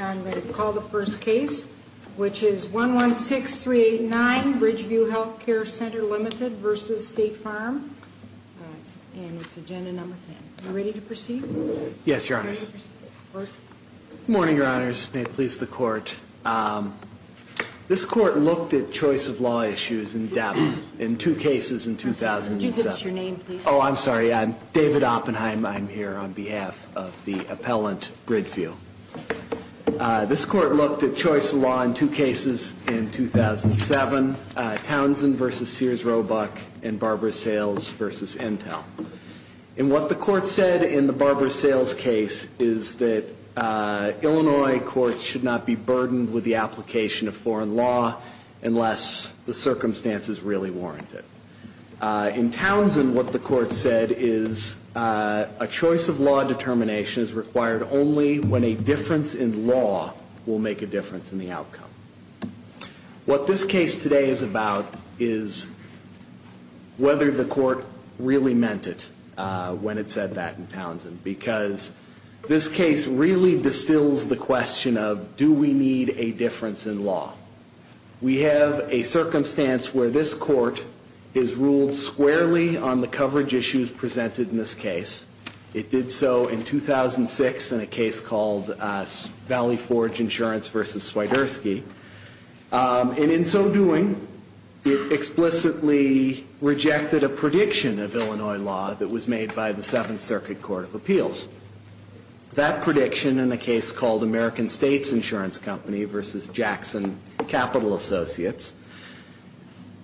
I'm going to call the first case, which is 116389, Bridgeview Health Care Center, Ltd. v. State Farm, and it's agenda number 10. Are you ready to proceed? Yes, Your Honors. Good morning, Your Honors. May it please the Court. This Court looked at choice of law issues in depth in two cases in 2007. Could you give us your name, please? Oh, I'm sorry. I'm David Oppenheim. I'm here on behalf of the appellant, Bridgeview. This Court looked at choice of law in two cases in 2007, Townsend v. Sears Roebuck and Barbara Sales v. Intel. And what the Court said in the Barbara Sales case is that Illinois courts should not be burdened with the application of foreign law unless the circumstances really warrant it. In Townsend, what the Court said is a choice of law determination is required only when a difference in law will make a difference in the outcome. What this case today is about is whether the Court really meant it when it said that in Townsend. Because this case really distills the question of, do we need a difference in law? We have a circumstance where this Court has ruled squarely on the coverage issues presented in this case. It did so in 2006 in a case called Valley Forge Insurance v. Swiderski. And in so doing, it explicitly rejected a prediction of Illinois law that was made by the Seventh Circuit Court of Appeals. That prediction, in a case called American States Insurance Company v. Jackson Capital Associates,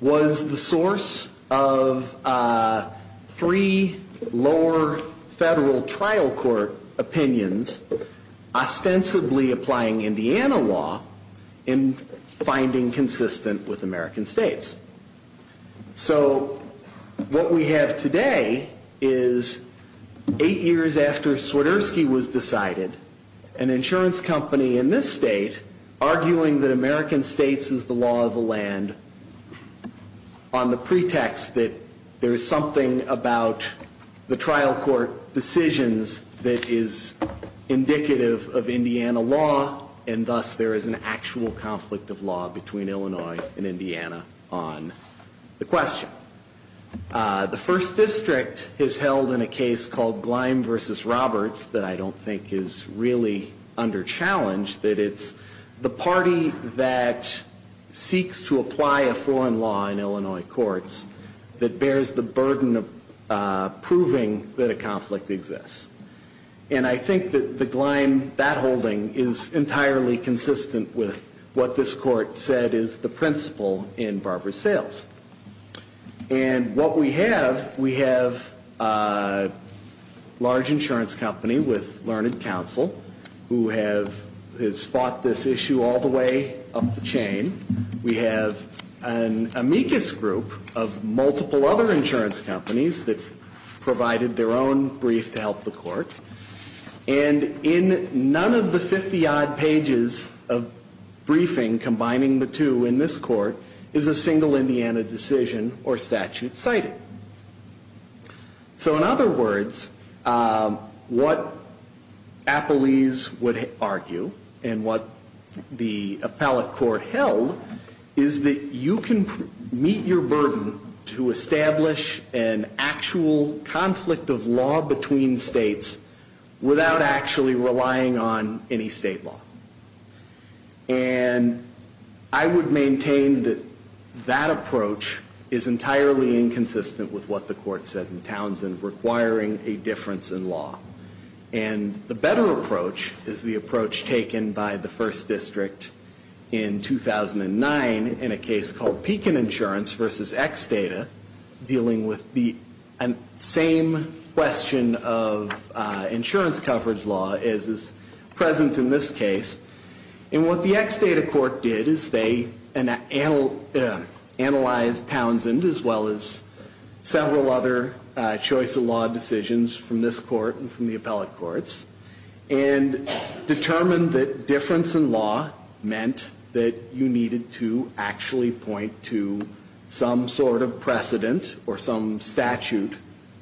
was the source of three lower federal trial court opinions ostensibly applying Indiana law in finding consistent with American states. So what we have today is eight years after Swiderski was decided, an insurance company in this state arguing that American states is the law of the land on the pretext that there is something about the trial court decisions that is indicative of Indiana law, and thus there is an actual conflict of law between Illinois and Indiana on the question. The First District has held in a case called Gleim v. Roberts that I don't think is really under challenge, that it's the party that seeks to apply a foreign law in Illinois courts that bears the burden of proving that a conflict exists. And I think that the Gleim, that holding, is entirely consistent with what this court said is the principle in Barber's sales. And what we have, we have a large insurance company with learned counsel who have, has fought this issue all the way up the chain. We have an amicus group of multiple other insurance companies that provided their own brief to help the court. And in none of the 50-odd pages of briefing combining the two in this court is a single Indiana decision or statute cited. So in other words, what Appellees would argue and what the appellate court held is that you can meet your burden to establish an actual conflict of law between states without actually relying on any state law. And I would maintain that that approach is entirely inconsistent with what the court said in Townsend, requiring a difference in law. And the better approach is the approach taken by the First District in 2009 in a case called Pekin Insurance v. Xdata, dealing with the same question of insurance coverage law as is present in this case. And what the Xdata court did is they analyzed Townsend as well as several other choice of law decisions from this court and from the appellate courts, and determined that difference in law meant that you needed to actually point to some sort of precedent. Or some statute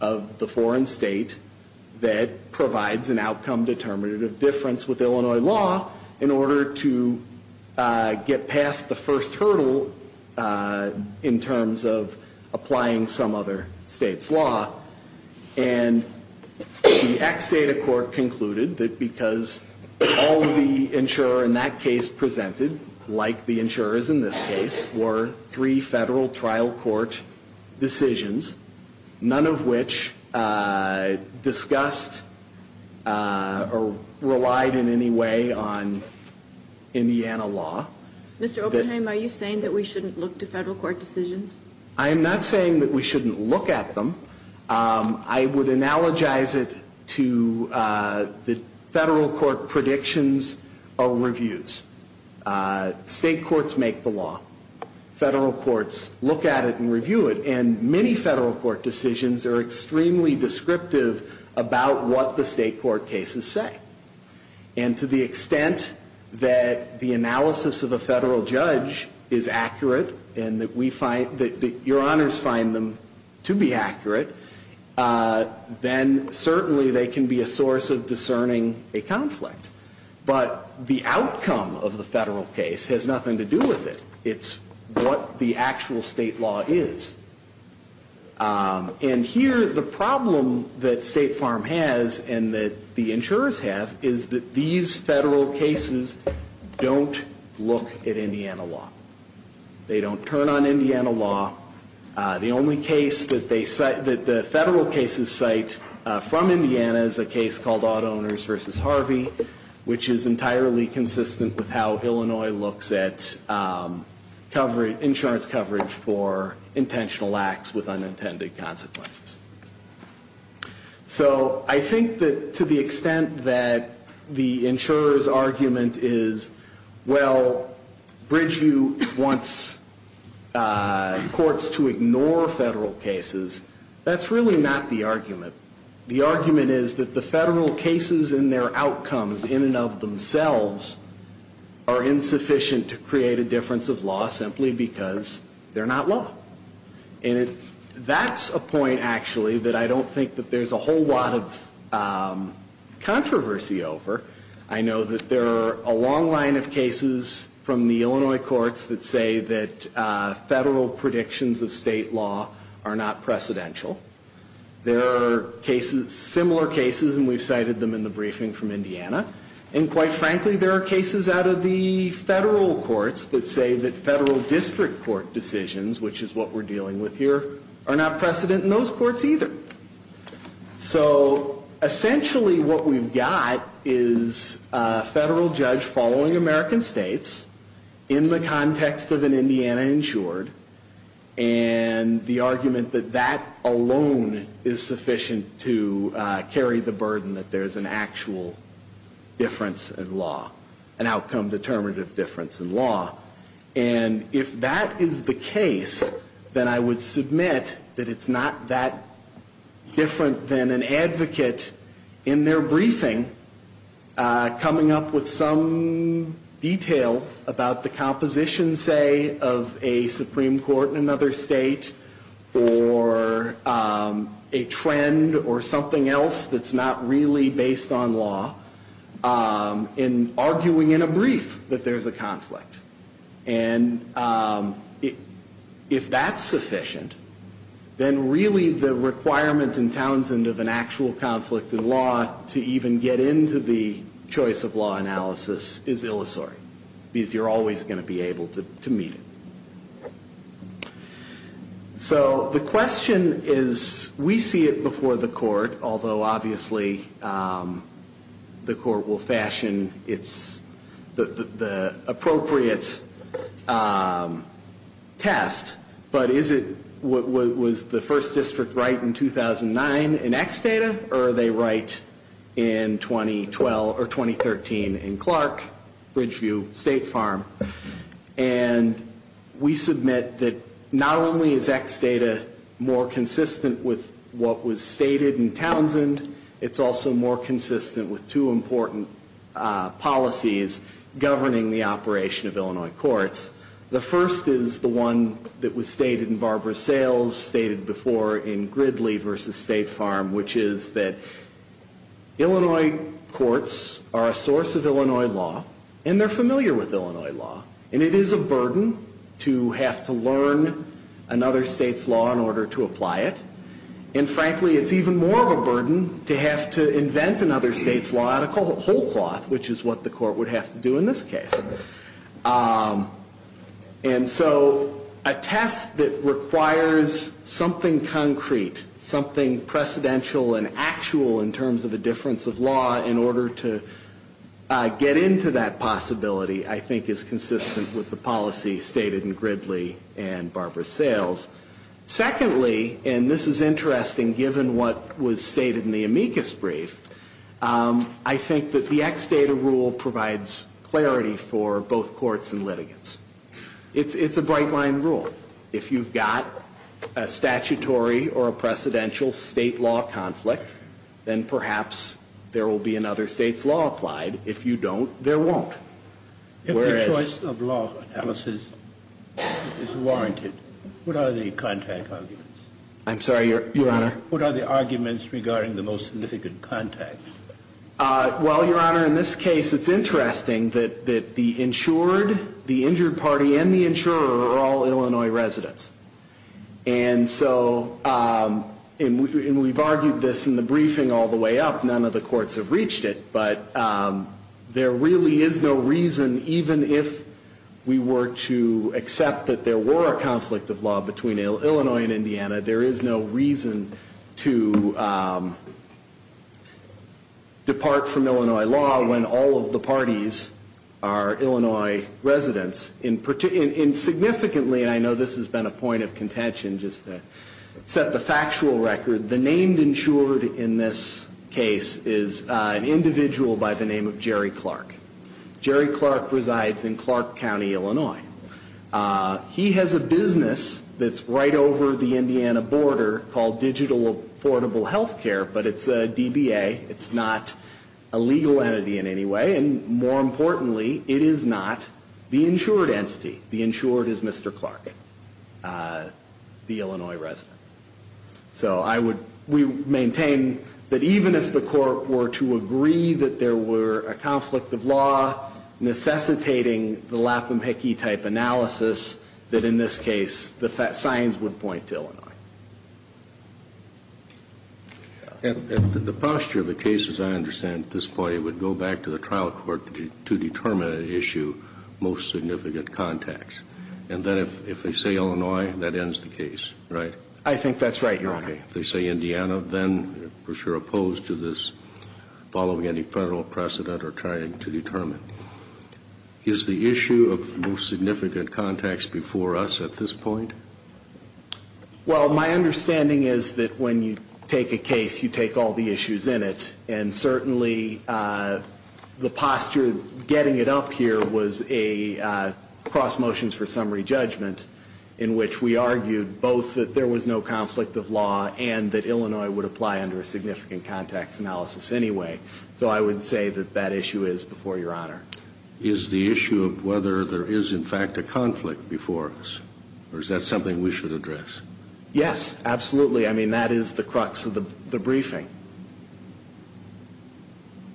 of the foreign state that provides an outcome determinative difference with Illinois law in order to get past the first hurdle in terms of applying some other state's law. And the Xdata court concluded that because all of the insurer in that case presented, like the insurers in this case, were three federal trial court judges. And all three of those judges made federal court decisions, none of which discussed or relied in any way on Indiana law. Mr. Oppenheim, are you saying that we shouldn't look to federal court decisions? I am not saying that we shouldn't look at them. I would analogize it to the federal court predictions or reviews. And many federal court decisions are extremely descriptive about what the state court cases say. And to the extent that the analysis of a federal judge is accurate and that we find, that your honors find them to be accurate, then certainly they can be a source of discerning a conflict. But the outcome of the federal case has nothing to do with it. It's what the actual state law is. And here, the problem that State Farm has and that the insurers have is that these federal cases don't look at Indiana law. They don't turn on Indiana law. The only case that the federal cases cite from Indiana is a case called Odd Owners v. Harvey, which is entirely consistent with how Illinois looks at federal court decisions. And it's a case that doesn't look at insurance coverage for intentional acts with unintended consequences. So I think that to the extent that the insurer's argument is, well, Bridgeview wants courts to ignore federal cases, that's really not the argument. The argument is that the federal cases and their outcomes in and of themselves are insufficient to create a difference of law. Simply because they're not law. And that's a point, actually, that I don't think that there's a whole lot of controversy over. I know that there are a long line of cases from the Illinois courts that say that federal predictions of state law are not precedential. There are cases, similar cases, and we've cited them in the briefing from Indiana. And quite frankly, there are cases out of the federal courts that say that federal district court decisions, which is what we're dealing with here, are not precedent in those courts either. So essentially what we've got is a federal judge following American states in the context of an Indiana insured. And the argument that that alone is sufficient to carry the burden that there's an actual precedent of state law. Difference in law. An outcome determinative difference in law. And if that is the case, then I would submit that it's not that different than an advocate in their briefing coming up with some detail about the composition, say, of a Supreme Court in another state or a trend or something else that's not really based on law. In arguing in a brief that there's a conflict. And if that's sufficient, then really the requirement in Townsend of an actual conflict in law to even get into the choice of law analysis is illusory. Because you're always going to be able to meet it. So the question is, we see it before the court, although obviously the court will fashion the appropriate test. But is it, was the first district right in 2009 in X data or are they right in 2012 or 2013 in Clark, Bridgeview, State Farm? And we submit that not only is X data more consistent with what was stated in Townsend, it's also more consistent with two important policies governing the operation of Illinois courts. The first is the one that was stated in Barbara Sales, stated before in Gridley v. State Farm, which is that Illinois courts are a source of Illinois law and they're familiar with Illinois law. And it is a burden to have to learn another state's law in order to apply it. And frankly, it's even more of a burden to have to invent another state's law out of whole cloth, which is what the court would have to do in this case. And so a test that requires something concrete, something precedential and actual in terms of a difference of law in order to get into that possibility, I think, is consistent. It's consistent with the policy stated in Gridley and Barbara Sales. Secondly, and this is interesting given what was stated in the amicus brief, I think that the X data rule provides clarity for both courts and litigants. It's a bright line rule. If you've got a statutory or a precedential state law conflict, then perhaps there will be another state's law applied. If you don't, there won't. If the choice of law analysis is warranted, what are the contact arguments? I'm sorry, Your Honor? What are the arguments regarding the most significant contacts? Well, Your Honor, in this case, it's interesting that the insured, the injured party and the insurer are all Illinois residents. And so, and we've argued this in the briefing all the way up, none of the courts have reached it, but there really is no reason, even if we were to accept that there were a conflict of law between Illinois and Indiana, there is no reason to depart from Illinois law when all of the parties are Illinois residents. And significantly, and I know this has been a point of contention just to set the factual record, the named insured in this case is an individual by the name of Jerry Clark. Jerry Clark resides in Clark County, Illinois. He has a business that's right over the Indiana border called Digital Affordable Healthcare, but it's a DBA. It's not a legal entity in any way. And more importantly, it is not the insured entity. The insured is Mr. Clark, the Illinois resident. So I would, we maintain that even if the court were to agree that there were a conflict of law necessitating the lapham-hickey type analysis, that in this case, the signs would point to Illinois. And the posture of the case, as I understand it at this point, it would go back to the trial court to determine an issue, most significant contacts. And then if they say Illinois, that ends the case, right? I think that's right, Your Honor. If they say Indiana, then we're sure opposed to this following any federal precedent or trying to determine. Is the issue of most significant contacts before us at this point? Well, my understanding is that when you take a case, you take all the issues in it. And certainly the posture getting it up here was a cross motions for summary judgment in which we argued both that there was no conflict of law and that Illinois would apply under a significant contacts analysis anyway. So I would say that that issue is before Your Honor. Is the issue of whether there is in fact a conflict before us or is that something we should address? Yes, absolutely. I mean, that is the crux of the briefing.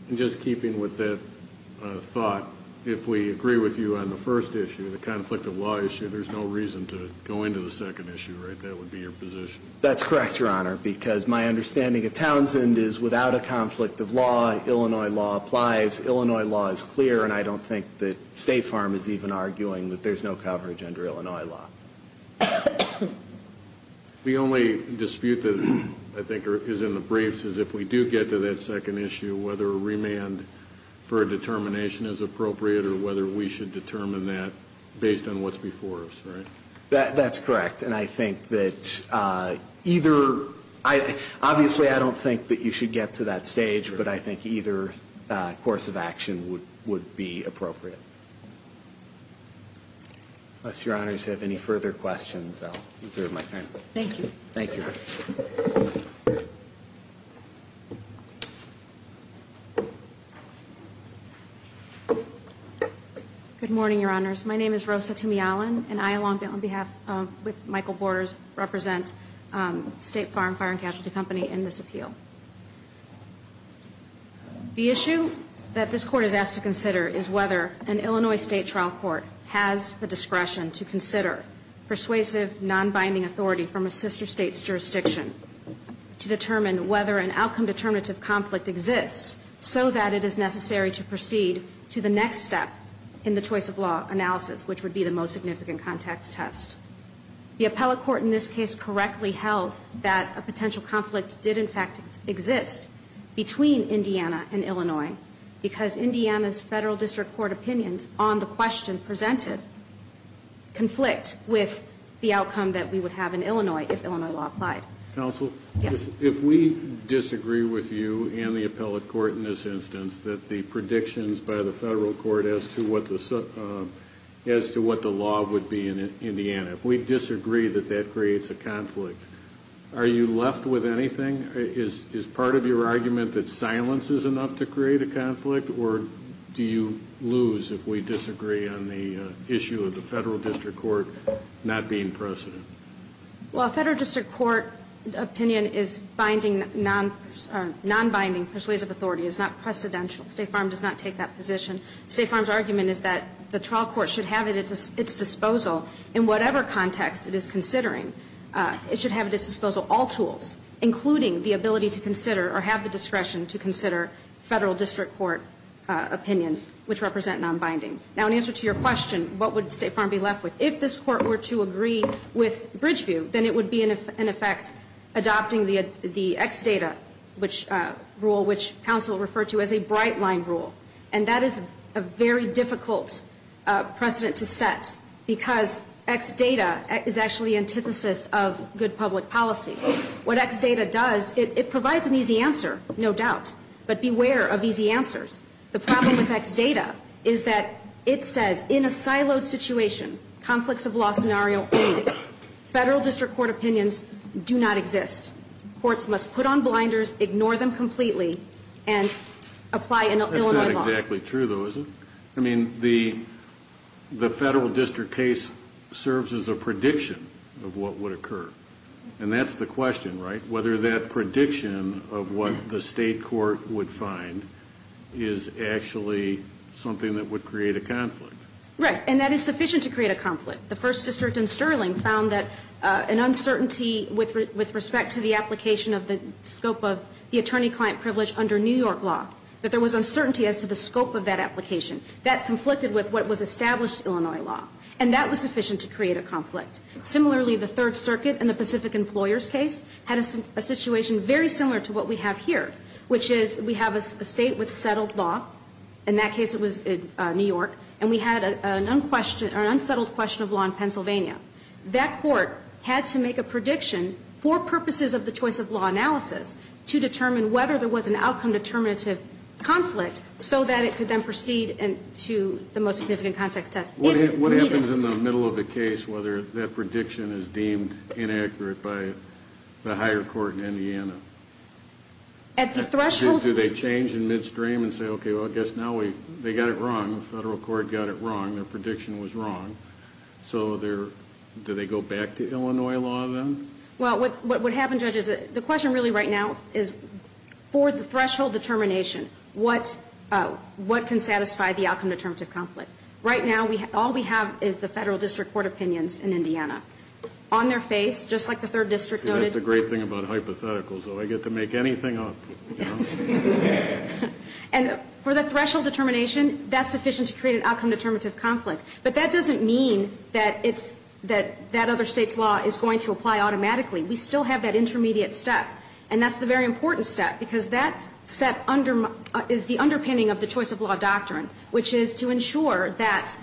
And just keeping with that thought, if we agree with you on the first issue, the conflict of law issue, there's no reason to go into the second issue, right? I think that would be your position. That's correct, Your Honor, because my understanding of Townsend is without a conflict of law, Illinois law applies. Illinois law is clear, and I don't think that State Farm is even arguing that there's no coverage under Illinois law. The only dispute that I think is in the briefs is if we do get to that second issue, whether a remand for a determination is appropriate or whether we should determine that based on what's before us, right? That's correct, and I think that either... Obviously, I don't think that you should get to that stage, but I think either course of action would be appropriate. Unless Your Honors have any further questions, I'll reserve my time. Thank you. Good morning, Your Honors. My name is Rosa Tumey-Allen, and I, along with Michael Borders, represent State Farm Fire and Casualty Company in this appeal. The issue that this Court is asked to consider is whether an Illinois State trial court has the discretion to consider persuasive, non-binding authority from a sister state's jurisdiction to determine whether an outcome-determinative conflict exists, so that it is necessary to proceed to the next step in the choice of law analysis, which would be the most significant context test. The appellate court in this case correctly held that a potential conflict did, in fact, exist between Indiana and Illinois, because Indiana's federal district court opinions on the question presented conflict with the outcome that we would have in Illinois. If Illinois law applied. Counsel, if we disagree with you and the appellate court in this instance that the predictions by the federal court as to what the law would be in Indiana, if we disagree that that creates a conflict, are you left with anything? Is part of your argument that silence is enough to create a conflict, or do you lose if we disagree on the issue of the federal district court not being precedent? Well, a federal district court opinion is binding, non-binding persuasive authority is not precedential. State Farm does not take that position. State Farm's argument is that the trial court should have at its disposal, in whatever context it is considering, it should have at its disposal all tools, including the ability to consider or have the discretion to consider federal district court opinions, which represent non-binding. Now, in answer to your question, what would State Farm be left with? If this court were to agree with Bridgeview, then it would be, in effect, adopting the ex data rule, which counsel referred to as a bright line rule. And that is a very difficult precedent to set, because ex data is actually antithesis of good public policy. What ex data does, it provides an easy answer, no doubt, but beware of easy answers. The problem with ex data is that it says, in a siloed situation, conflicts of law scenario only, federal district court opinions do not exist. Courts must put on blinders, ignore them completely, and apply Illinois law. That's not exactly true, though, is it? I mean, the federal district case serves as a prediction of what would occur. And that's the question, right? Whether that prediction of what the state court would find is actually something that would create a conflict. Right, and that is sufficient to create a conflict. The First District in Sterling found that an uncertainty with respect to the application of the scope of the attorney-client privilege under New York law, that there was uncertainty as to the scope of that application. That conflicted with what was established Illinois law, and that was sufficient to create a conflict. Similarly, the Third Circuit in the Pacific Employers case had a situation very similar to what we have here, which is we have a state with settled law, in that case it was New York, and we had an unsettled question of law in Pennsylvania. That court had to make a prediction for purposes of the choice of law analysis to determine whether there was an outcome determinative conflict, so that it could then proceed to the most significant context test. What happens in the middle of the case whether that prediction is deemed inaccurate by the higher court in Indiana? Do they change in midstream and say, okay, well, I guess now they got it wrong. The federal court got it wrong. Their prediction was wrong. So do they go back to Illinois law then? Well, what happened, Judge, is the question really right now is for the threshold determination, what can satisfy the outcome determinative conflict? Right now, all we have is the federal district court opinions in Indiana. On their face, just like the Third District noted. That's the great thing about hypotheticals, though. I get to make anything up. And for the threshold determination, that's sufficient to create an outcome determinative conflict. But that doesn't mean that it's, that that other state's law is going to apply automatically. We still have that intermediate step. And that's the very important step, because that step is the underpinning of the choice of law doctrine, which is to ensure that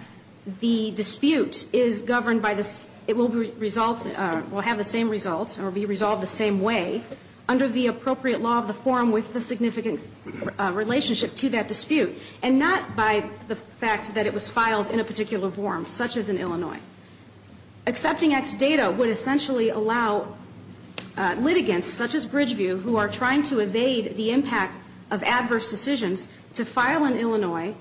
the dispute is governed by the, it will have the same results, or be resolved the same way, under the appropriate law of the forum with the significant relationship to that dispute. And not by the fact that it was filed in a particular forum, such as in Illinois. Accepting X data would essentially allow litigants, such as Bridgeview, who are trying to evade the impact of adverse decisions, to file in Illinois,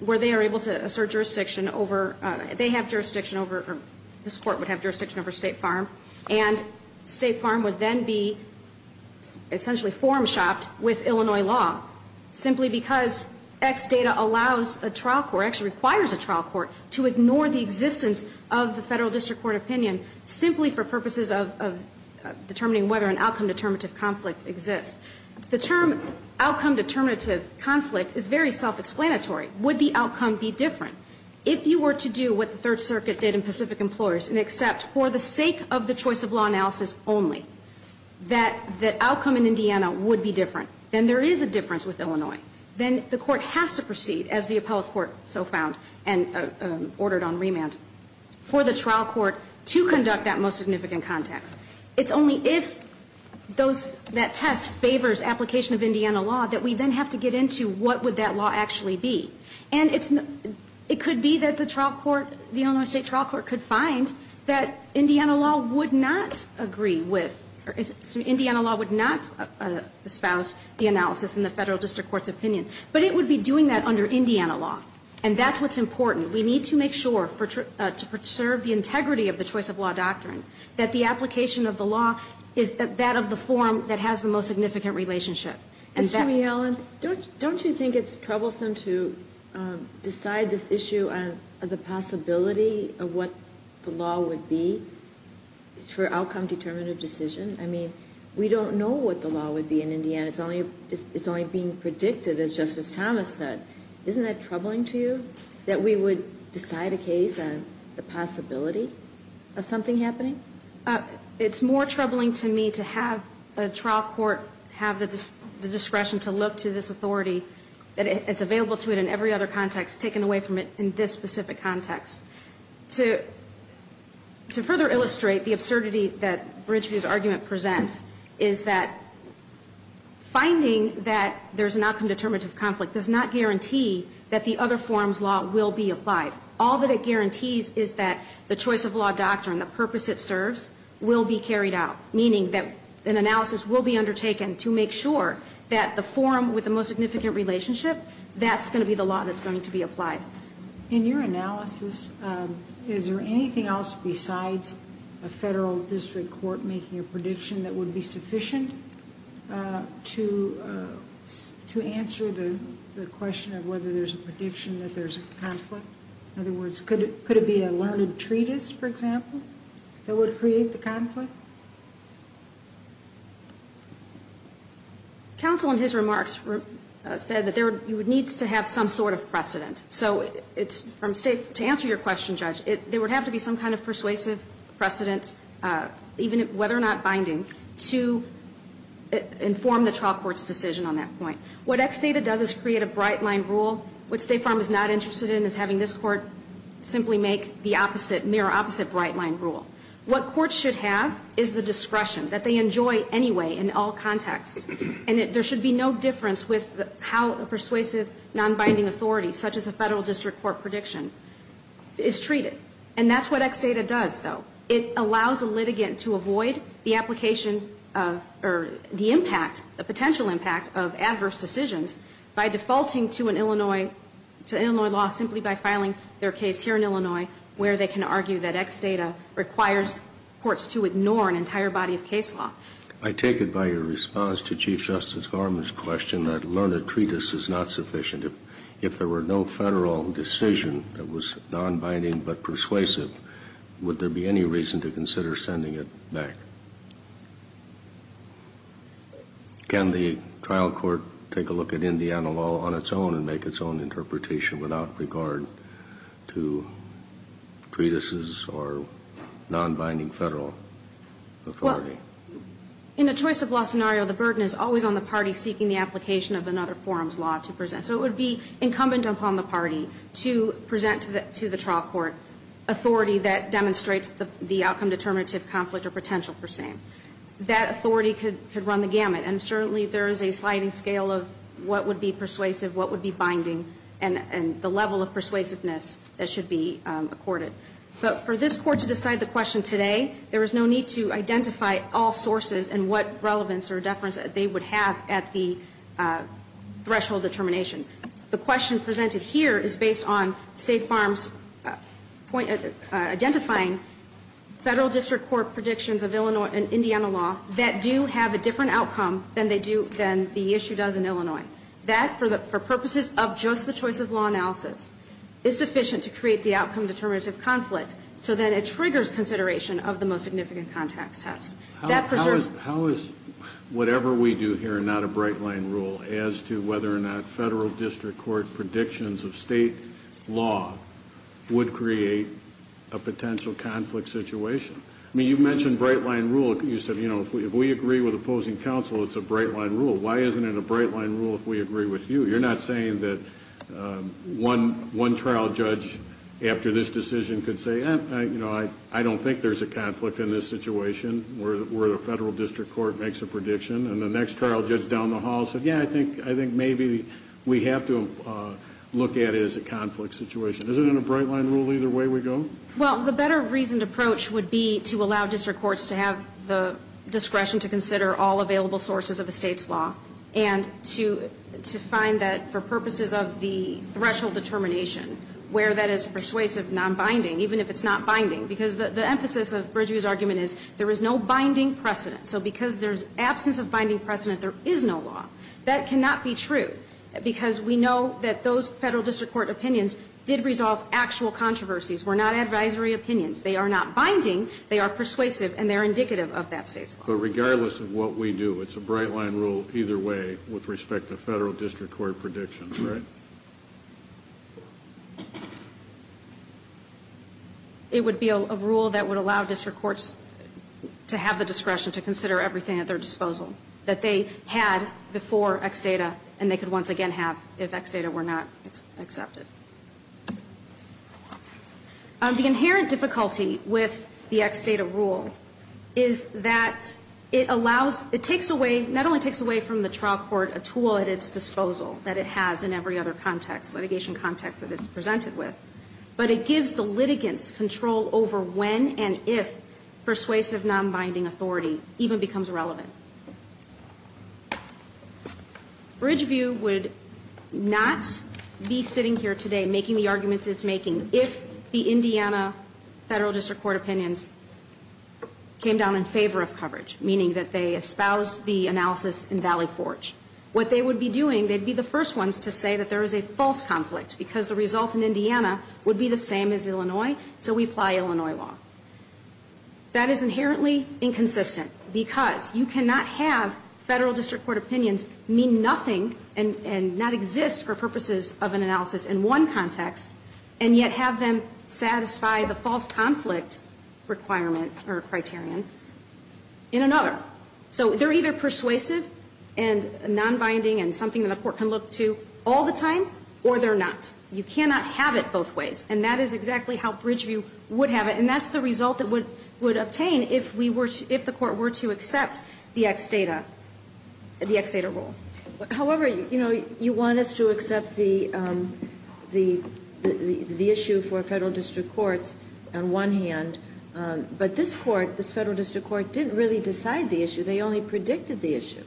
where they are able to assert jurisdiction over, they have jurisdiction over, or this Court would have jurisdiction over State Farm, and State Farm would then be essentially forum shopped with Illinois law, simply because X data allows a trial court, actually requires a trial court, to ignore the existence of the Federal District Court opinion simply for purposes of determining whether an outcome determinative conflict exists. The term outcome determinative conflict is very self-explanatory. Would the outcome be different? If you were to do what the Third Circuit did in Pacific Employers and accept, for the sake of the choice of law analysis only, that the outcome in Indiana would be different, then there is a difference with Illinois. Then the Court has to proceed, as the Appellate Court so found, and ordered on remand, for the trial court to conduct that most significant context. It's only if those, that test favors application of Indiana law, that we then have to get into what would that law actually be. And it could be that the Illinois State Trial Court could find that Indiana law would not agree with, or Indiana law would not espouse the analysis in the Federal District Court's opinion. But it would be doing that under Indiana law. And that's what's important. We need to make sure, to preserve the integrity of the choice of law doctrine, that the application of the law is that of the form that has the most significant relationship. And that... Ms. Healy-Allen, don't you think it's troublesome to decide this issue on the possibility of what the law would be, for outcome-determinative decision? I mean, we don't know what the law would be in Indiana. It's only being predicted, as Justice Thomas said. Isn't that troubling to you, that we would decide a case on the possibility of something happening? It's more troubling to me to have a trial court have the discretion to look to this authority, that it's available to it in every other context, taken away from it in this specific context. To further illustrate the absurdity that Bridgeview's argument presents, is that finding that there's an outcome-determinative conflict does not guarantee that the other form's law will be applied. All that it guarantees is that the choice of law doctrine, the purpose it serves, will be carried out. Meaning that an analysis will be undertaken to make sure that the form with the most significant relationship, that's going to be the law that's going to be applied. In your analysis, is there anything else besides a federal district court making a prediction that would be sufficient to answer the question of whether there's a prediction that there's a conflict? In other words, could it be a learned treatise, for example, that would create the conflict? Counsel, in his remarks, said that there needs to have some sort of precedent. So to answer your question, Judge, there would have to be some kind of persuasive precedent, even whether or not binding, to inform the trial court's decision on that point. What XDATA does is create a bright-line rule. What State Farm is not interested in is having this court simply make the opposite, mirror-opposite bright-line rule. What courts should have is the discretion that they enjoy anyway in all contexts. And there should be no difference with how a persuasive, non-binding authority, such as a federal district court prediction, is treated. And that's what XDATA does, though. It allows a litigant to avoid the application of, or the impact, the potential impact of adverse decisions by defaulting to an Illinois, to Illinois law simply by filing their case here in Illinois, where they can argue that XDATA requires courts to ignore an entire body of case law. I take it by your response to Chief Justice Garmon's question that learned treatise is not sufficient. If there were no federal decision that was non-binding but persuasive, would there be any reason to consider sending it back? Can the trial court take a look at Indiana law on its own and make its own interpretation without regard to treatises or non-binding federal authority? Well, in a choice-of-law scenario, the burden is always on the party seeking the application of another forum's law to present. So it would be incumbent upon the party to present to the trial court authority that demonstrates the outcome-determinative conflict or potential for same. That authority could run the gamut, and certainly there is a sliding scale of what would be persuasive, what would be binding, and the level of persuasiveness that should be accorded. But for this Court to decide the question today, there is no need to identify all sources and what relevance or deference they would have at the threshold determination. The question presented here is based on State Farm's identifying Federal District Court predictions of Illinois and Indiana law that do have a different outcome than the issue does in Illinois. That, for purposes of just the choice-of-law analysis, is sufficient to create the outcome-determinative conflict so that it triggers consideration of the most significant context test. How is whatever we do here not a bright-line rule as to whether or not Federal District Court predictions of State law would create a potential conflict situation? I mean, you mentioned bright-line rule. You said, you know, if we agree with opposing counsel, it's a bright-line rule. Why isn't it a bright-line rule if we agree with you? You're not saying that one trial judge after this decision could say, you know, I don't think there's a conflict in this situation where the Federal District Court makes a prediction, and the next trial judge down the hall said, yeah, I think maybe we have to look at it as a conflict situation. Isn't it a bright-line rule either way we go? Well, the better-reasoned approach would be to allow district courts to have the discretion to consider all available sources of the State's law and to find that, for purposes of the threshold determination, where that is persuasive, non-binding, even if it's not binding. Because the emphasis of Bridgeview's argument is there is no binding precedent. So because there's absence of binding precedent, there is no law. That cannot be true, because we know that those Federal District Court opinions did resolve actual controversies, were not advisory opinions. They are not binding. They are persuasive, and they are indicative of that State's law. But regardless of what we do, it's a bright-line rule either way with respect to Federal District Court opinions. It would be a rule that would allow district courts to have the discretion to consider everything at their disposal that they had before X data and they could once again have if X data were not accepted. The inherent difficulty with the X data rule is that it allows, it takes away, not only takes away from the trial court a tool at its disposal that it has in every other context, litigation context that it's presented with, but it gives the litigants control over when and if persuasive, non-binding authority even becomes relevant. Bridgeview would not be sitting here today making the arguments it's making if the Indiana Federal District Court opinions came down in favor of coverage, meaning that they espoused the analysis in Valley Forge. What they would be doing, they'd be the first ones to say that there is a false conflict because the result in Indiana would be the same as Illinois, so we apply Illinois law. That is inherently inconsistent because you cannot have Federal District Court opinions mean nothing and not exist for purposes of an analysis in one context and yet have them satisfy the false conflict requirement or criterion in another. So they're either persuasive and non-binding and something that a court can look to all the time or they're not. You cannot have it both ways. And that is exactly how Bridgeview would have it. And that's the result it would obtain if we were to, if the court were to accept the X data, the X data rule. However, you know, you want us to accept the issue for Federal District Courts on one hand, but this court, this Federal District Court didn't really decide the issue. They only predicted the issue.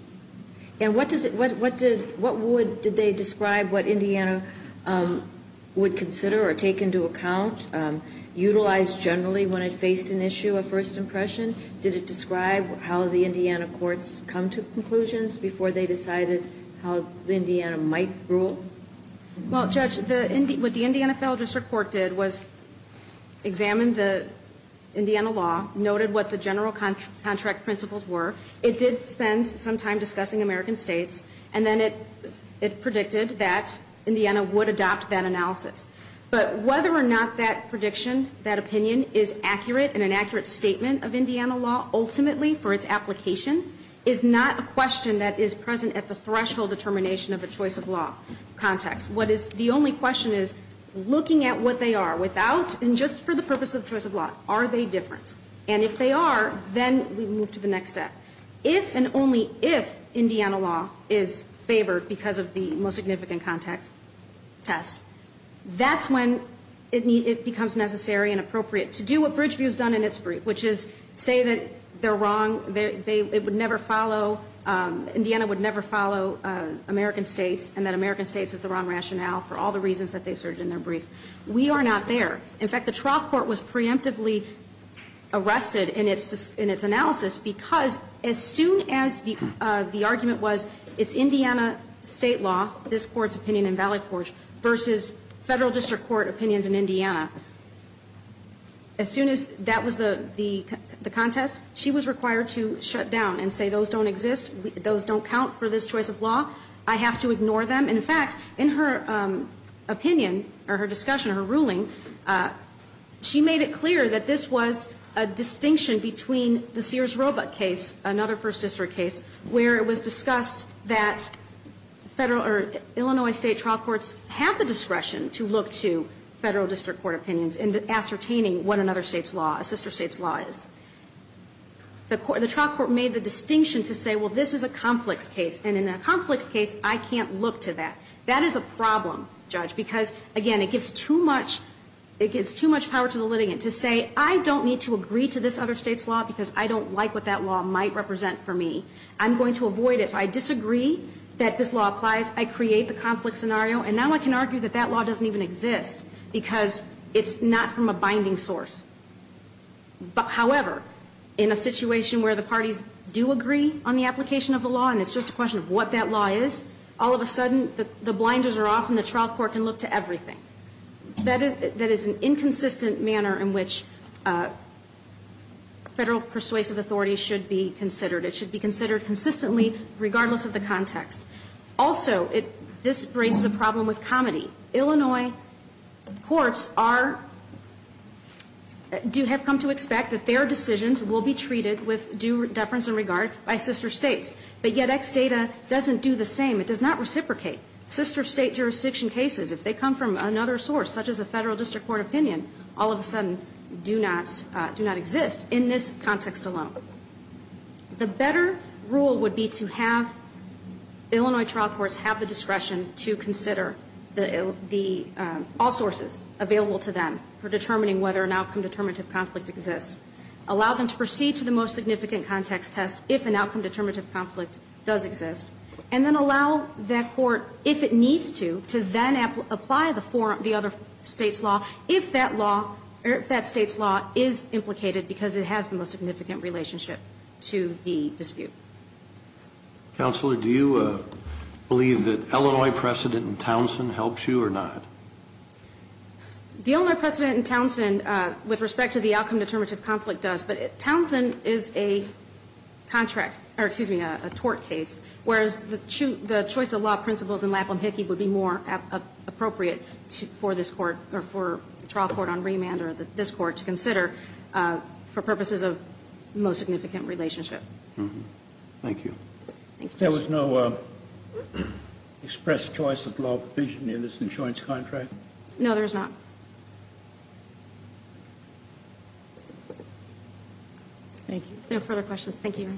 And what does it, what would, did they describe what Indiana would consider or take into account, utilize generally when it faced an issue of first impression? Did it describe how the Indiana courts come to conclusions before they decided how Indiana might rule? Well, Judge, what the Indiana Federal District Court did was examine the Indiana law, noted what the general contract principles were. It did spend some time discussing American states. And then it predicted that Indiana would adopt that analysis. But whether or not that prediction, that opinion is accurate and an accurate statement of Indiana law ultimately for its application is not a question that is present at the threshold determination of a choice of law context. What is, the only question is looking at what they are without and just for the purpose of choice of law. Are they different? And if they are, then we move to the next step. If and only if Indiana law is favored because of the most significant context test, that's when it becomes necessary and appropriate to do what Bridgeview has done in its brief, which is say that they're wrong, they would never follow, Indiana would never follow American states and that American states is the wrong rationale for all the reasons that they asserted in their brief. We are not there. In fact, the trial court was preemptively arrested in its analysis because as soon as the argument was it's Indiana state law, this Court's opinion in Valley Forge, versus Federal District Court opinions in Indiana, as soon as that was the contest, she was required to shut down and say those don't exist, those don't count for this choice of law, I have to ignore them. In fact, in her opinion, or her discussion, her ruling, she made it clear that this was a distinction between the Sears-Robut case, another First District case, where it was discussed that Illinois state trial courts have the discretion to look to Federal District Court opinions in ascertaining what another state's law, a sister state's law is. The trial court made the distinction to say, well, this is a conflicts case, and in a conflicts case, I can't look to that. That is a problem, Judge, because, again, it gives too much power to the litigant to say I don't need to agree to this other state's law because I don't like what that law might represent for me. I'm going to avoid it. If I disagree that this law applies, I create the conflict scenario, and now I can argue that that law doesn't even exist because it's not from a binding source. However, in a situation where the parties do agree on the application of the law and it's just a question of what that law is, all of a sudden the blinders are off and the trial court can look to everything. That is an inconsistent manner in which Federal persuasive authority should be considered. It should be considered consistently regardless of the context. Also, this raises a problem with comedy. Illinois courts are do have come to expect that their decisions will be treated with due deference and regard by sister states. But yet X data doesn't do the same. It does not reciprocate. Sister state jurisdiction cases, if they come from another source, such as a Federal district court opinion, all of a sudden do not exist in this context alone. The better rule would be to have Illinois trial courts have the discretion to consider the all sources available to them for determining whether an outcome determinative conflict exists, allow them to proceed to the most significant context test if an outcome determinative conflict does exist, and then allow that court, if it needs to, to then apply the other State's law if that law or if that law has a significant relationship to the dispute. Counselor, do you believe that Illinois precedent in Townsend helps you or not? The Illinois precedent in Townsend, with respect to the outcome determinative conflict, does. But Townsend is a contract or, excuse me, a tort case, whereas the choice of law principles in Lapham-Hickey would be more appropriate for this Court or for the trial court on remand or this Court to consider for purposes of the most significant relationship. Thank you. There was no express choice of law provision in this insurance contract? No, there is not. Thank you. If there are no further questions, thank you, Your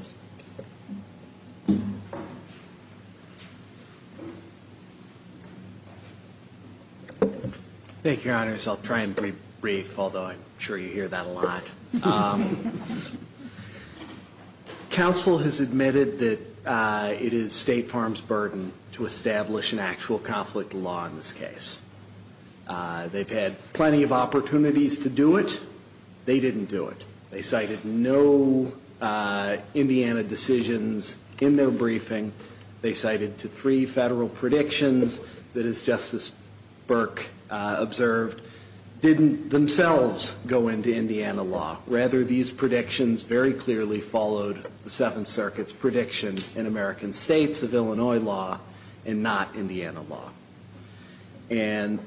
Honor. Thank you, Your Honors. I'll try and be brief, although I'm sure you hear that a lot. Counsel has admitted that it is State Farms' burden to establish an actual conflict law in this case. They've had plenty of opportunities to do it. They cited no Indianapolis case. They cited no Indiana decisions in their briefing. They cited three Federal predictions that, as Justice Burke observed, didn't themselves go into Indiana law. Rather, these predictions very clearly followed the Seventh Circuit's prediction in American states of Illinois law and not Indiana law. And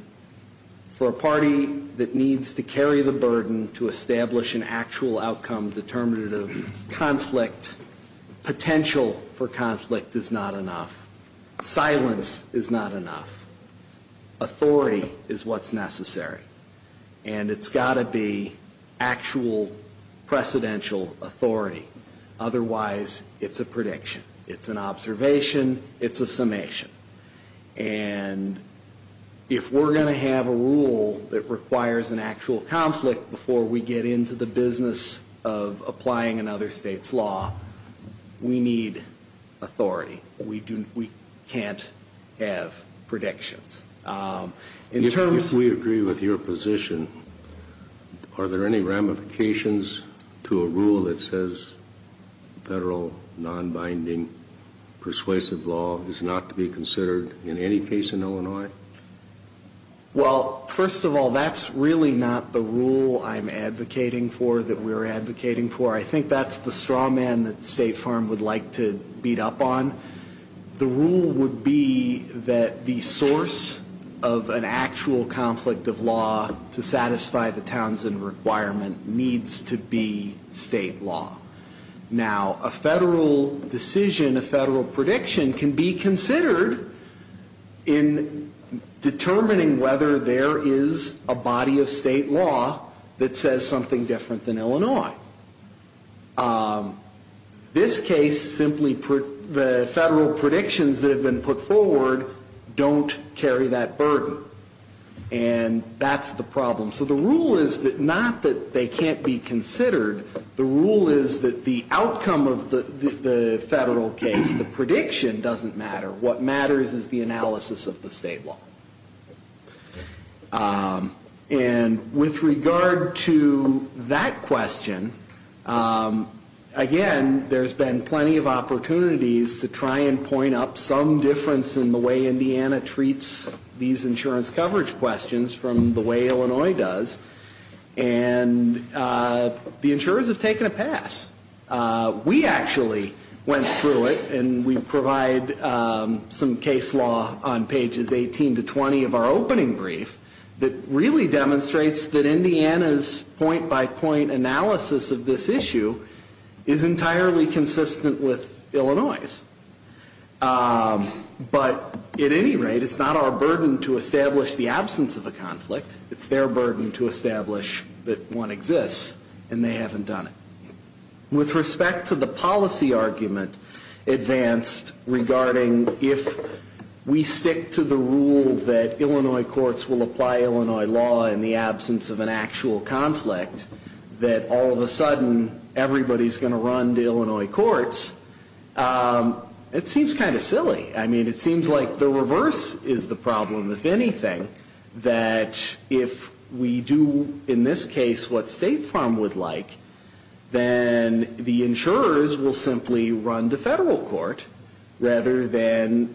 for a party that needs to carry the burden to establish an actual outcome determinative conflict, potential for conflict is not enough. Silence is not enough. Authority is what's necessary. And it's got to be actual precedential authority. Otherwise, it's a prediction. It's an observation. It's a summation. And if we're going to have a rule that requires an actual conflict before we get into the business of applying another state's law, we need authority. We can't have predictions. If we agree with your position, are there any ramifications to a rule that says federal nonbinding persuasive law is not to be considered in any case in Illinois? Well, first of all, that's really not the rule I'm advocating for that we're advocating for. I think that's the straw man that State Farm would like to beat up on. The rule would be that the source of an actual conflict of law to satisfy the Townsend requirement needs to be state law. Now, a federal decision, a federal prediction can be considered in determining whether there is a body of state law that says something different than Illinois. This case simply, the federal predictions that have been put forward don't carry that burden. And that's the problem. So the rule is that not that they can't be considered, the rule is that the outcome of the federal case, the prediction, doesn't matter. What matters is the analysis of the state law. And with regard to that question, again, there's been plenty of opportunities to try and point up some difference in the way Indiana treats these insurance coverage questions from the way Illinois does, and the insurers have taken a pass. We actually went through it, and we provide some case law on pages 18 to 20 of our opening brief that really demonstrates that Indiana's point-by-point analysis of this issue is entirely consistent with Illinois'. But at any rate, it's not our burden to establish the absence of a conflict. It's their burden to establish that one exists, and they haven't done it. With respect to the policy argument advanced regarding if we stick to the rule that Illinois courts will apply Illinois law in the absence of an actual conflict, that all of a sudden everybody's going to run to Illinois courts, it seems kind of silly. I mean, it seems like the reverse is the problem, if anything, that if we do, in this case, what State Farm would like, then the insurers will simply run to federal court rather than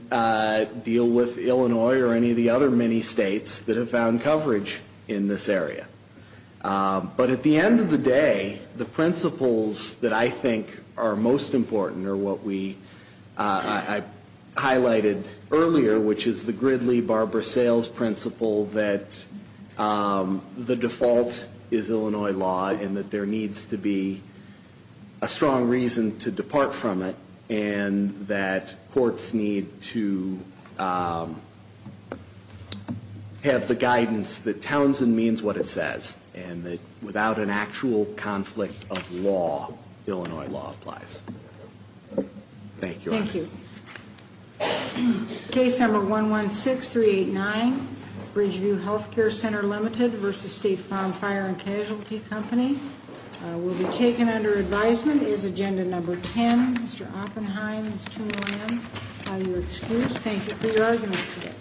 deal with Illinois or any of the other many states that have found coverage in this area. But at the end of the day, the principles that I think are most important are what we highlighted earlier, which is the Gridley-Barber sales principle that the default is Illinois law and that there needs to be a strong reason to depart from it, and that courts need to have the guidance that Townsend means what it says, and that without an actual conflict of law, Illinois law applies. Thank you. Case number 116389, Bridgeview Health Care Center Limited v. State Farm Fire and Casualty Company will be taken under advisement. Is agenda number 10, Mr. Oppenheim, Ms. Toon William, are you excused? Thank you for your arguments today.